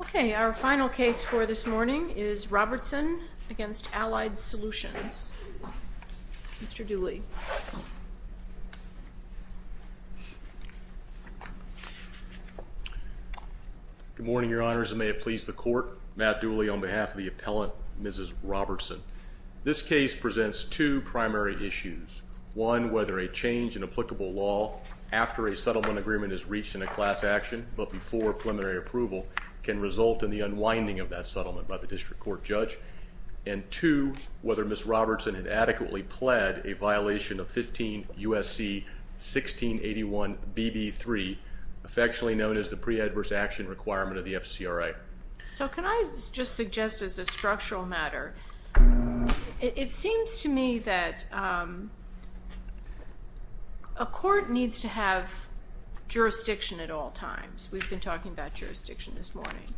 Okay, our final case for this morning is Robertson v. Allied Solutions. Mr. Dooley. Good morning, Your Honors, and may it please the Court. Matt Dooley on behalf of the appellate counsel, Mrs. Robertson. This case presents two primary issues. One, whether a change in applicable law after a settlement agreement is reached in a class action, but before preliminary approval, can result in the unwinding of that settlement by the district court judge. And two, whether Ms. Robertson had adequately pled a violation of 15 U.S.C. 1681 BB3, affectionately known as the Pre-Adverse Action Requirement of the FCRA. So can I just suggest as a structural matter, it seems to me that a court needs to have jurisdiction at all times. We've been talking about jurisdiction this morning.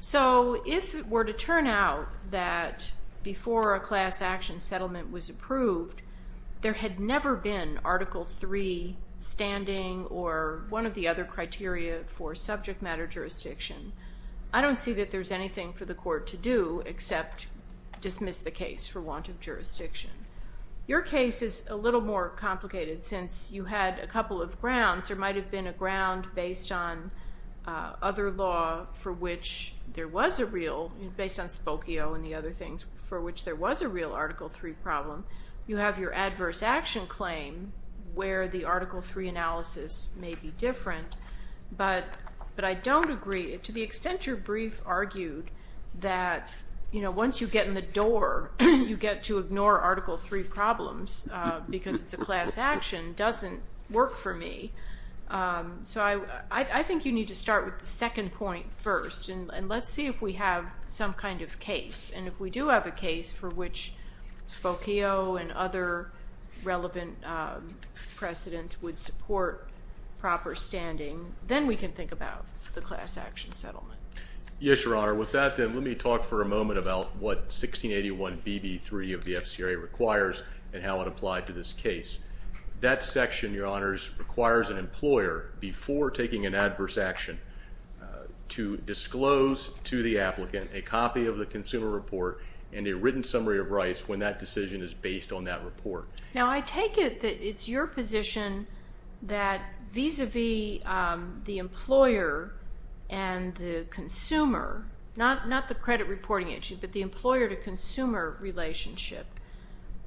So if it were to turn out that before a class action settlement was approved, there had never been Article III standing or one of the other criteria for subject matter jurisdiction, I don't see that there's anything for the court to do except dismiss the case for want of jurisdiction. Your case is a little more complicated since you had a couple of grounds. There might have been a ground based on other law for which there was a real, based on Spokio and the other things, for which there was a real Article III problem. You have your adverse action claim where the Article III analysis may be different, but I don't agree. To the extent your brief argued that once you get in the door, you get to ignore Article III problems because it's a class action, doesn't work for me. So I think you need to start with the second point first and let's see if we have some kind of case. And if we have relevant precedents would support proper standing, then we can think about the class action settlement. Yes, Your Honor. With that then, let me talk for a moment about what 1681BB3 of the FCRA requires and how it applied to this case. That section, Your Honors, requires an employer, before taking an adverse action, to disclose to the applicant a copy of the Now I take it that it's your position that vis-a-vis the employer and the consumer, not the credit reporting issue, but the employer to consumer relationship,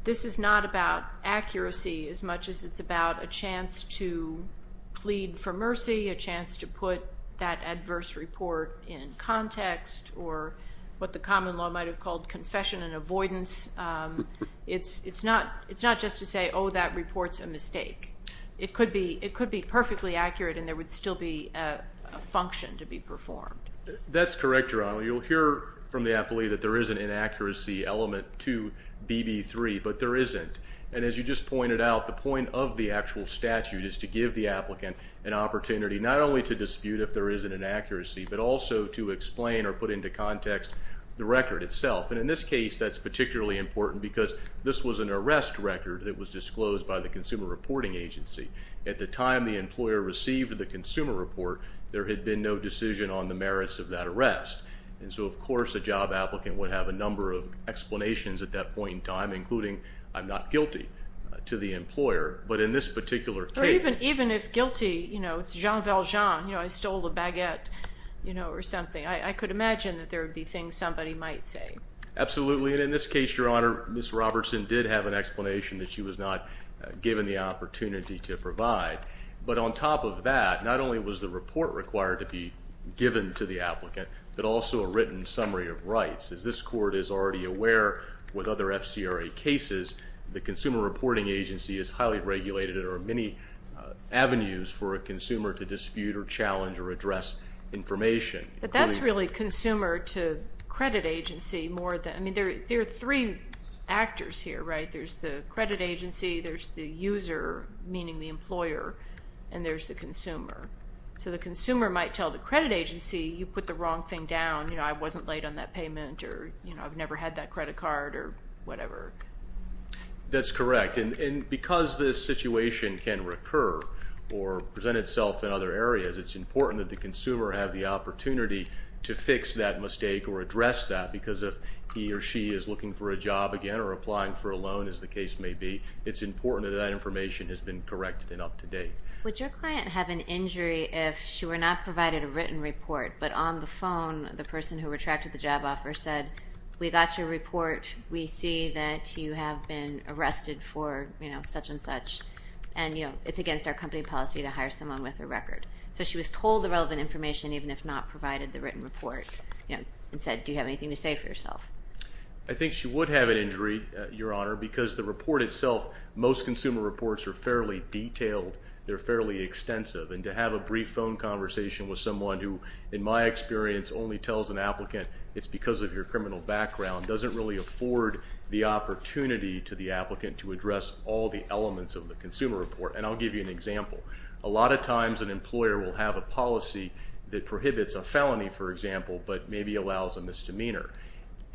this is not about accuracy as much as it's about a chance to plead for mercy, a chance to put that adverse report in context or what the common law might have called confession and avoidance. It's not just to say, oh, that report's a mistake. It could be perfectly accurate and there would still be a function to be performed. That's correct, Your Honor. You'll hear from the appellee that there is an inaccuracy element to BB3, but there isn't. And as you just pointed out, the point of the actual statute is to give the applicant an opportunity not only to dispute if there is an inaccuracy, but also to explain or put into context the record itself. And in this case, that's particularly important because this was an arrest record that was disclosed by the Consumer Reporting Agency. At the time the employer received the consumer report, there had been no decision on the merits of that arrest. And so, of course, a job applicant would have a number of explanations at that point in time, including, I'm not guilty to the employer, but in this particular case. Or even if guilty, it's Jean Valjean, I stole the baguette or something. I could imagine that there would be things somebody might say. Absolutely. And in this case, Your Honor, Ms. Robertson did have an explanation that she was not given the opportunity to provide. But on top of that, not only was the report required to be given to the applicant, but also a written summary of rights. As this Court is already aware with other FCRA cases, the Consumer Reporting Agency is highly regulated and there are many avenues for a consumer to dispute or challenge or address information. But that's really consumer to credit agency more than, I mean, there are three actors here, right? There's the credit agency, there's the user, meaning the employer, and there's the consumer. So the consumer might tell the credit agency, you put the wrong thing down, you know, I wasn't late on that payment or, you know, I've never had that credit card or whatever. That's correct. And because this situation can recur or present itself in other community to fix that mistake or address that, because if he or she is looking for a job again or applying for a loan, as the case may be, it's important that that information has been corrected and up to date. Would your client have an injury if she were not provided a written report, but on the phone the person who retracted the job offer said, we got your report, we see that you have been arrested for, you know, such and such, and, you know, it's against our company policy to hire someone with a record. So she was told the relevant information, even if not provided the written report, you know, and said, do you have anything to say for yourself? I think she would have an injury, Your Honor, because the report itself, most consumer reports are fairly detailed, they're fairly extensive, and to have a brief phone conversation with someone who, in my experience, only tells an applicant it's because of your criminal background doesn't really afford the opportunity to the applicant to address all the elements of the consumer report. And I'll give you an example. A lot of times an employer will have a policy that prohibits a felony, for example, but maybe allows a misdemeanor.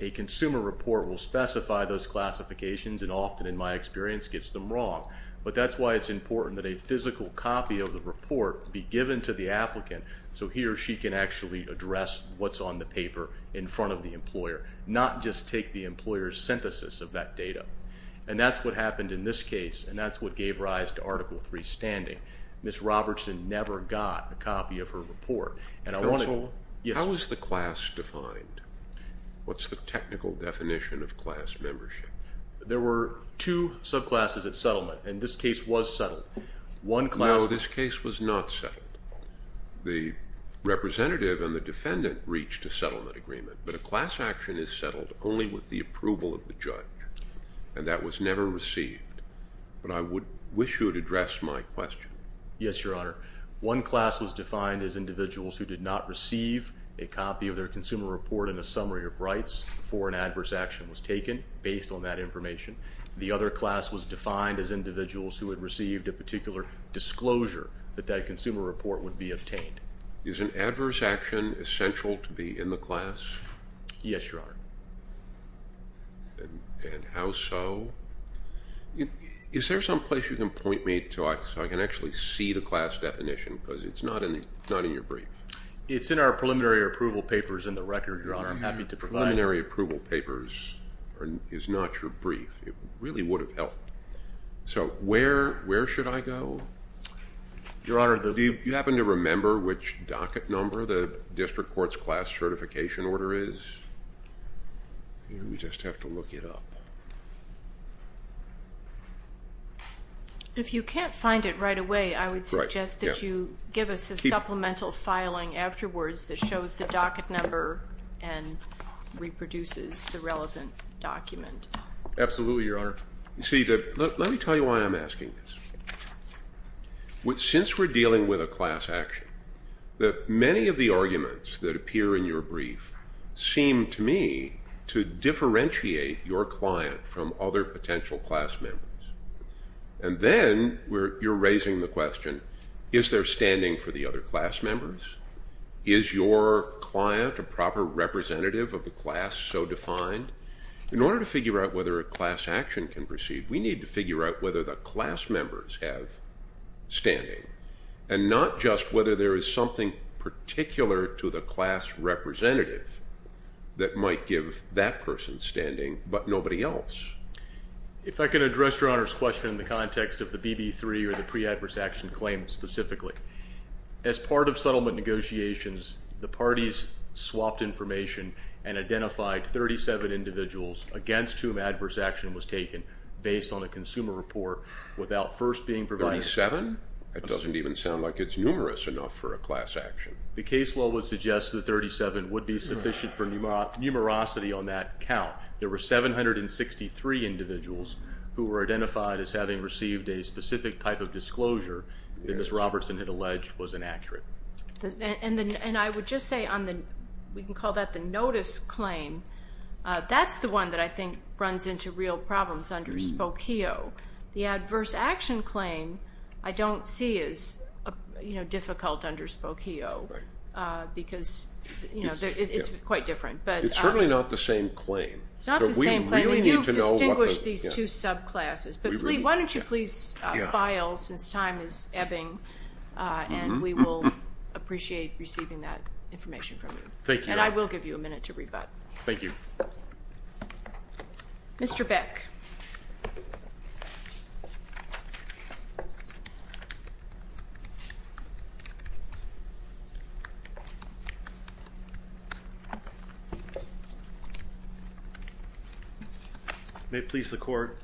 A consumer report will specify those classifications and often, in my experience, gets them wrong. But that's why it's important that a physical copy of the report be given to the applicant so he or she can actually address what's on the paper in front of the employer, not just take the employer's synthesis of that data. And that's what happened in this case, and that's what gave rise to Article III standing. Ms. Robertson never got a copy of her report. And I want to... Counsel? Yes. How is the class defined? What's the technical definition of class membership? There were two subclasses at settlement, and this case was settled. One class... No, this case was not settled. The representative and the defendant reached a settlement agreement, but a class action is settled only with the approval of the judge. And that was never received. But I wish you would address my question. Yes, Your Honor. One class was defined as individuals who did not receive a copy of their consumer report and a summary of rights before an adverse action was taken, based on that information. The other class was defined as individuals who had received a particular disclosure that that consumer report would be obtained. Is an adverse action essential to be in the class? Yes, Your Honor. And how so? Is there some place you can point me to so I can actually see the class definition? Because it's not in your brief. It's in our preliminary approval papers in the record, Your Honor. I'm happy to provide... Preliminary approval papers is not your brief. It really would have helped. So where should I go? Your Honor, the... Do you happen to remember which docket number the district court's class certification order is? We just have to look it up. If you can't find it right away, I would suggest that you give us a supplemental filing afterwards that shows the docket number and reproduces the relevant document. Absolutely, Your Honor. See, let me tell you why I'm asking this. Since we're dealing with a class action, that many of the arguments that appear in your brief seem to me to differentiate your client from other potential class members. And then you're raising the question, is there standing for the other class members? Is your client a proper representative of the class so defined? In order to figure out whether a class action can proceed, we need to figure out whether the class members have standing. And not just whether there is something particular to the class representative that might give that person standing, but nobody else. If I can address Your Honor's question in the context of the BB3 or the pre-adverse action claim specifically. As part of settlement negotiations, the parties swapped information and identified 37 individuals against whom adverse action was taken based on a consumer report without first being provided. Thirty-seven? That doesn't even sound like it's numerous enough for a class action. The case law would suggest that 37 would be sufficient for numerosity on that count. There were 763 individuals who were identified as having received a specific type of disclosure that Ms. Robertson had alleged was inaccurate. And I would just say, we can call that the notice claim. That's the one that I think runs into real problems under Spokio. The adverse action claim, I don't see as difficult under Spokio because it's quite different. It's certainly not the same claim. It's not the same claim. You've distinguished these two subclasses. But why don't you please file since time is ebbing and we will appreciate receiving that information from you. And I will give you a minute to rebut. Thank you. Mr. Beck. May it please the court.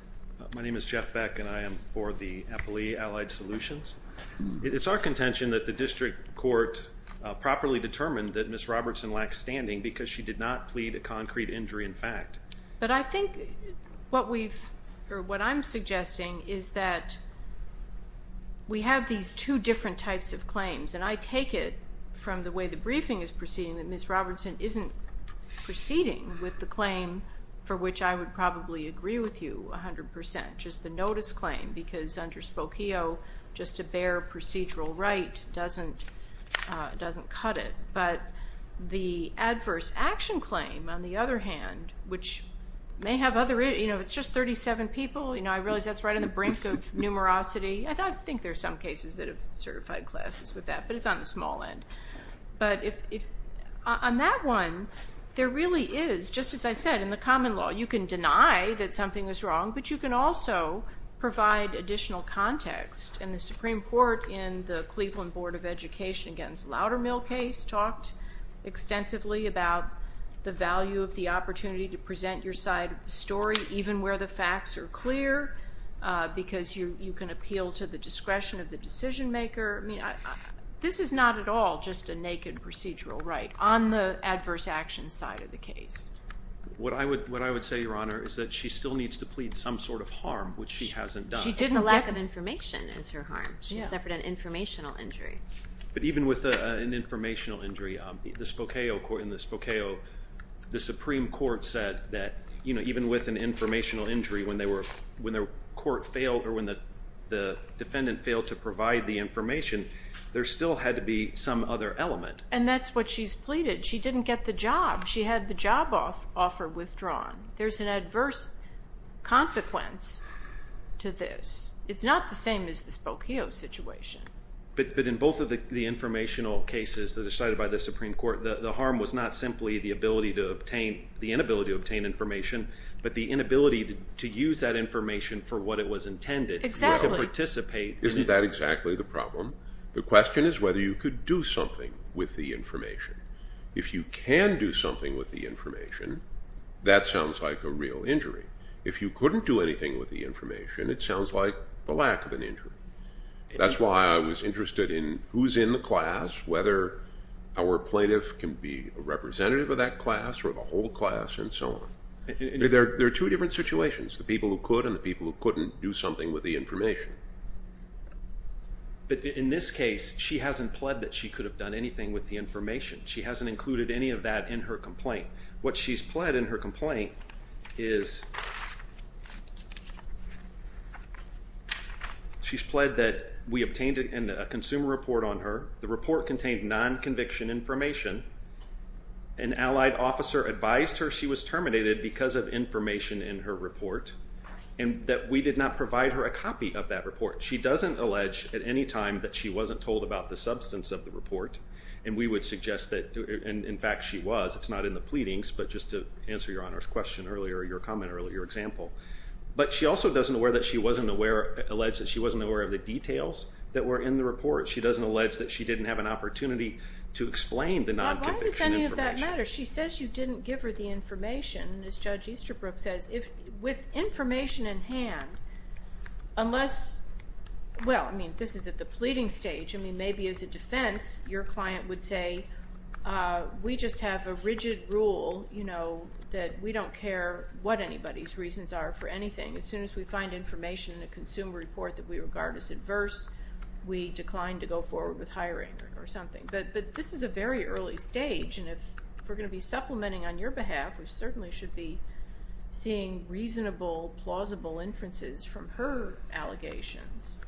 My name is Jeff Beck and I am for the Eppley Allied Solutions. It's our contention that the district court properly determined that Ms. Robertson lacked standing because she did not plead a concrete injury in fact. But I think what I'm suggesting is that we have these two different types of claims. And I take it from the way the for which I would probably agree with you 100%. Just the notice claim because under Spokio just a bare procedural right doesn't cut it. But the adverse action claim on the other hand, which may have other, you know, it's just 37 people. You know, I realize that's right on the brink of numerosity. I think there are some cases that have certified classes with that, but it's on the small end. But on that one, there really is, just as I said, in the common law, you can deny that something is wrong, but you can also provide additional context. And the Supreme Court in the Cleveland Board of Education against Loudermill case talked extensively about the value of the opportunity to present your side of the story, even where the facts are clear, because you can appeal to the discretion of the decision maker. I mean, this is not at all just a naked procedural right on the adverse action side of the case. What I would say, Your Honor, is that she still needs to plead some sort of harm, which she hasn't done. It's a lack of information is her harm. She suffered an informational injury. But even with an informational injury, the Spokio, the Supreme Court said that, you know, even with an informational injury, when their court failed or when the defendant failed to provide the information, there still had to be some other element. And that's what she's pleaded. She didn't get the job. She had the job offer withdrawn. There's an adverse consequence to this. It's not the same as the Spokio situation. But in both of the informational cases that are cited by the Supreme Court, the harm was not simply the inability to obtain information, but the inability to use that information for what it was intended to participate in. I see that exactly the problem. The question is whether you could do something with the information. If you can do something with the information, that sounds like a real injury. If you couldn't do anything with the information, it sounds like the lack of an injury. That's why I was interested in who's in the class, whether our plaintiff can be a representative of that class or the whole class and so on. There are two different situations, the people who could and the people who couldn't do something with the information. But in this case, she hasn't pled that she could have done anything with the information. She hasn't included any of that in her complaint. What she's pled in her complaint is she's pled that we obtained a consumer report on her. The report contained non-conviction information. An allied officer advised her she was terminated because of information in her report and that we did not provide her a copy of that report. She doesn't allege at any time that she wasn't told about the substance of the report and we would suggest that, in fact, she was. It's not in the pleadings, but just to answer your Honor's question earlier, your comment earlier, your example. But she also doesn't allege that she wasn't aware of the details that were in the report. She doesn't allege that she didn't have an opportunity to explain the non-conviction information. Well, why does any of that matter? She says you didn't give her the information. As Judge Easterbrook says, with information in hand, unless, well, I mean, this is at the pleading stage. I mean, maybe as a defense, your client would say, we just have a rigid rule, you know, that we don't care what anybody's reasons are for anything. As soon as we find information in a consumer report that we regard as adverse, we decline to go forward with hiring or something. But this is a very early stage and if we're going to be supplementing on your behalf, we certainly should be seeing reasonable, plausible inferences from her allegations.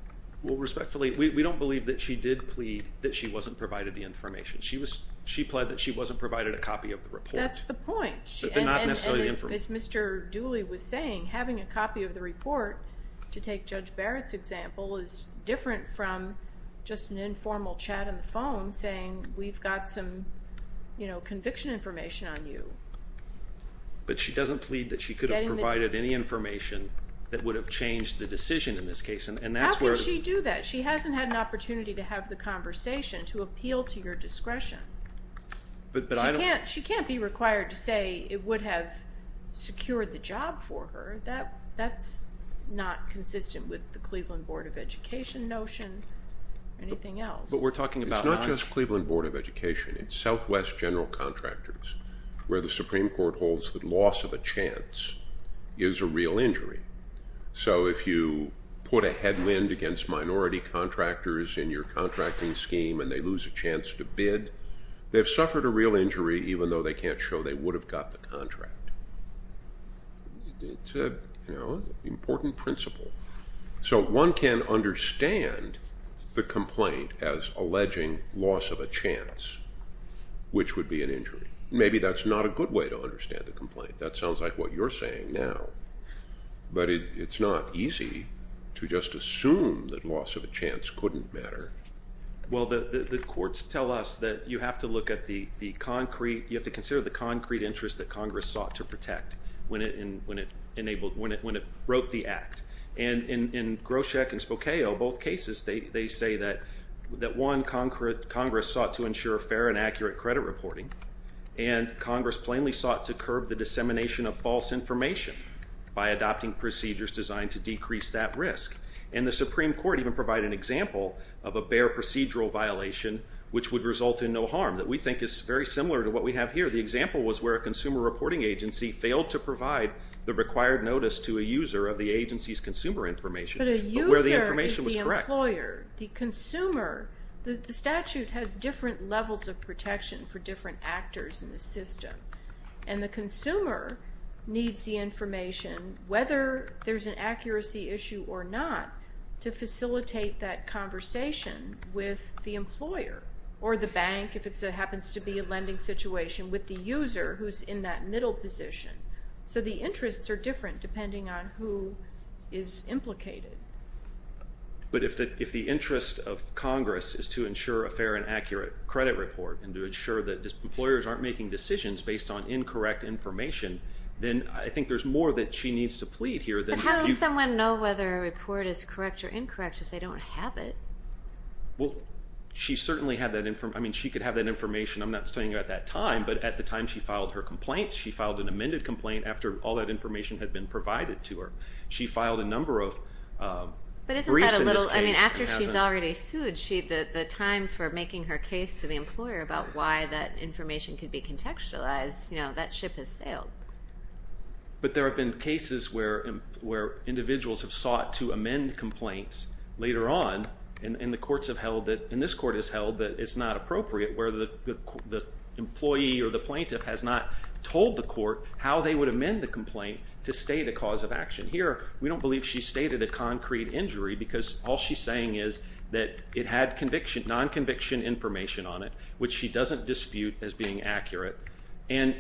Well, respectfully, we don't believe that she did plead that she wasn't provided the information. She plead that she wasn't provided a copy of the report. That's the point. But not necessarily the information. And as Mr. Dooley was saying, having a copy of the report, to take Judge Barrett's example, is different from just an informal chat on the phone saying, we've got some, you know, conviction information on you. But she doesn't plead that she could have provided any information that would have changed the decision in this case. And that's where... How could she do that? She hasn't had an opportunity to have the conversation, to appeal to your discretion. But I don't... She can't be required to say it would have secured the job for her. That's not consistent with the Cleveland Board of Education notion or anything else. But we're talking about... It's not just Cleveland Board of Education. It's Southwest General Contractors, where the Supreme Court holds that loss of a chance is a real injury. So if you put a headwind against minority contractors in your contracting scheme and they lose a chance to bid, they've suffered a real injury, even though they can't show they would have got the contract. It's an important principle. So one can understand the complaint as alleging loss of a chance, which would be an injury. Maybe that's not a good way to understand the complaint. That sounds like what you're saying now. But it's not easy to just assume that loss of a chance couldn't matter. Well, the courts tell us that you have to look at the concrete... You have to consider the concrete interest that Congress sought to protect when it wrote the act. And in Groshek and Spokao, both cases, they say that, one, Congress sought to ensure fair and accurate credit reporting, and Congress plainly sought to curb the dissemination of false information by adopting procedures designed to decrease that risk. And the Supreme Court even provided an example of a bare procedural violation, which would result in no harm, that we think is very similar to what we have here. The example was where a consumer reporting agency failed to provide the required notice to a user of the agency's consumer information, but where the information was correct. But a user is the employer. The consumer... The statute has different levels of protection for different actors in the system. And the consumer needs the information, whether there's an accuracy issue or not, to facilitate that conversation with the employer, or the bank if it happens to be a lending situation, with the user who's in that middle position. So the interests are different depending on who is implicated. But if the interest of Congress is to ensure a fair and accurate credit report and to ensure that employers aren't making decisions based on incorrect information, then I think there's more that she needs to plead here than... But how would someone know whether a report is correct or incorrect if they don't have it? Well, she certainly had that... I mean, she could have that information, I'm not saying at that time, but at the time she filed her complaint, she filed an amended complaint after all that information had been provided to her. She filed a number of briefs in this case... But isn't that a little... I mean, after she's already sued, the time for making her case to the employer about why that information could be contextualized, that ship has sailed. But there have been cases where individuals have sought to amend complaints later on, and the courts have held that, and this court has held that it's not appropriate where the employee or the plaintiff has not told the court how they would amend the complaint to state a cause of action. Here, we don't believe she stated a concrete injury because all she's saying is that it had non-conviction information on it, which she doesn't dispute as being accurate, and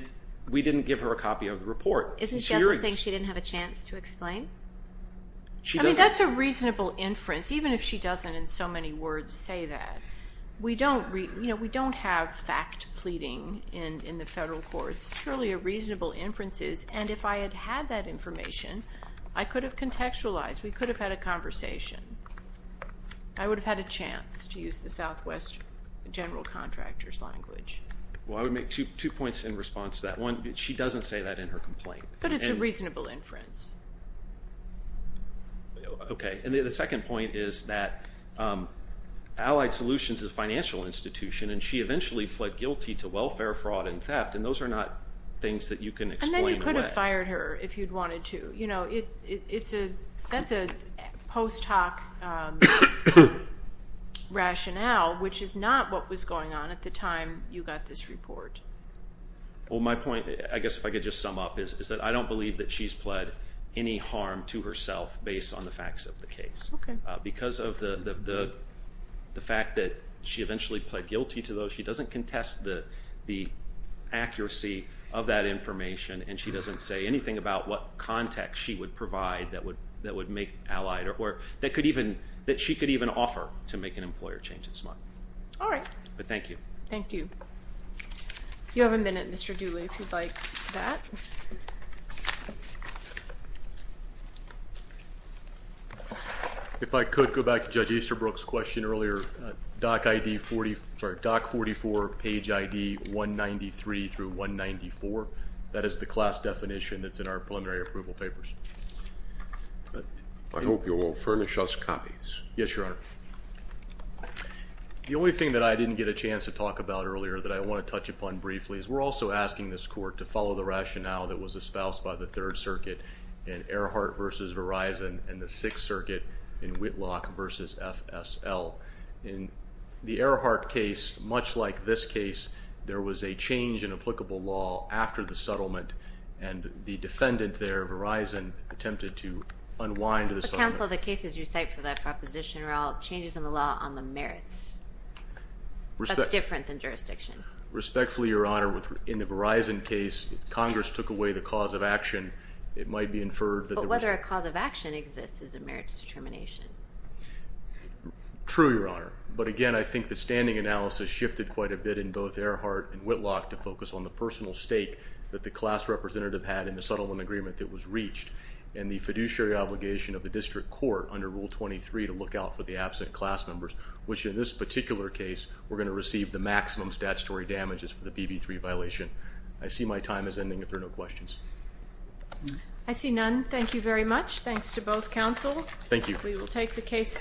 we didn't give her a copy of the report. Isn't she also saying she didn't have a chance to explain? I mean, that's a reasonable inference, even if she doesn't in so many words say that. We don't have fact pleading in the federal courts. Surely a reasonable inference is, and if I had had that information, I could have contextualized. We could have had a conversation. I would have had a chance to use the Southwest general contractor's language. Well, I would make two points in response to that. One, she doesn't say that in her complaint. But it's a reasonable inference. Okay, and the second point is that Allied Solutions is a financial institution, and she eventually pled guilty to welfare fraud and theft, and those are not things that you can explain. And then you could have fired her if you'd wanted to. You know, it's a, that's a post hoc rationale, which is not what was going on at the time you got this report. Well, my point, I guess if I could just sum up, is that I don't believe that she's pled any harm to herself based on the facts of the case. Because of the fact that she eventually pled guilty to those, she doesn't contest the accuracy of that information, and she doesn't say anything about what context she would provide that would make Allied, or that could even, that she could even offer to make an employer change its mind. All right. But thank you. Thank you. You have a minute, Mr. Dooley, if you'd like that. If I could go back to Judge Easterbrook's question earlier, DOC ID 40, sorry, DOC 44 page ID 193 through 194, that is the class definition that's in our preliminary approval papers. I hope you will furnish us copies. Yes, Your Honor. The only thing that I didn't get a chance to talk about earlier that I want to touch upon briefly is we're also asking this court to follow the rationale that was espoused by the Third Circuit in Earhart v. Verizon and the Sixth Circuit in Whitlock v. FSL. In the Earhart case, much like this case, there was a change in applicable law after the settlement, and the defendant there, Verizon, attempted to unwind the settlement. Mr. Counsel, the cases you cite for that proposition are all changes in the law on the merits. That's different than jurisdiction. Respectfully, Your Honor, in the Verizon case, Congress took away the cause of action. It might be inferred that the... But whether a cause of action exists is a merits determination. True, Your Honor. But again, I think the standing analysis shifted quite a bit in both Earhart and Whitlock to focus on the personal stake that the class representative had in the settlement agreement that was reached and the fiduciary obligation of the district court under Rule 23 to look out for the absent class members, which in this particular case, we're going to receive the maximum statutory damages for the BB3 violation. I see my time is ending if there are no questions. I see none. Thank you very much. Thanks to both counsel. Thank you. We will take the case.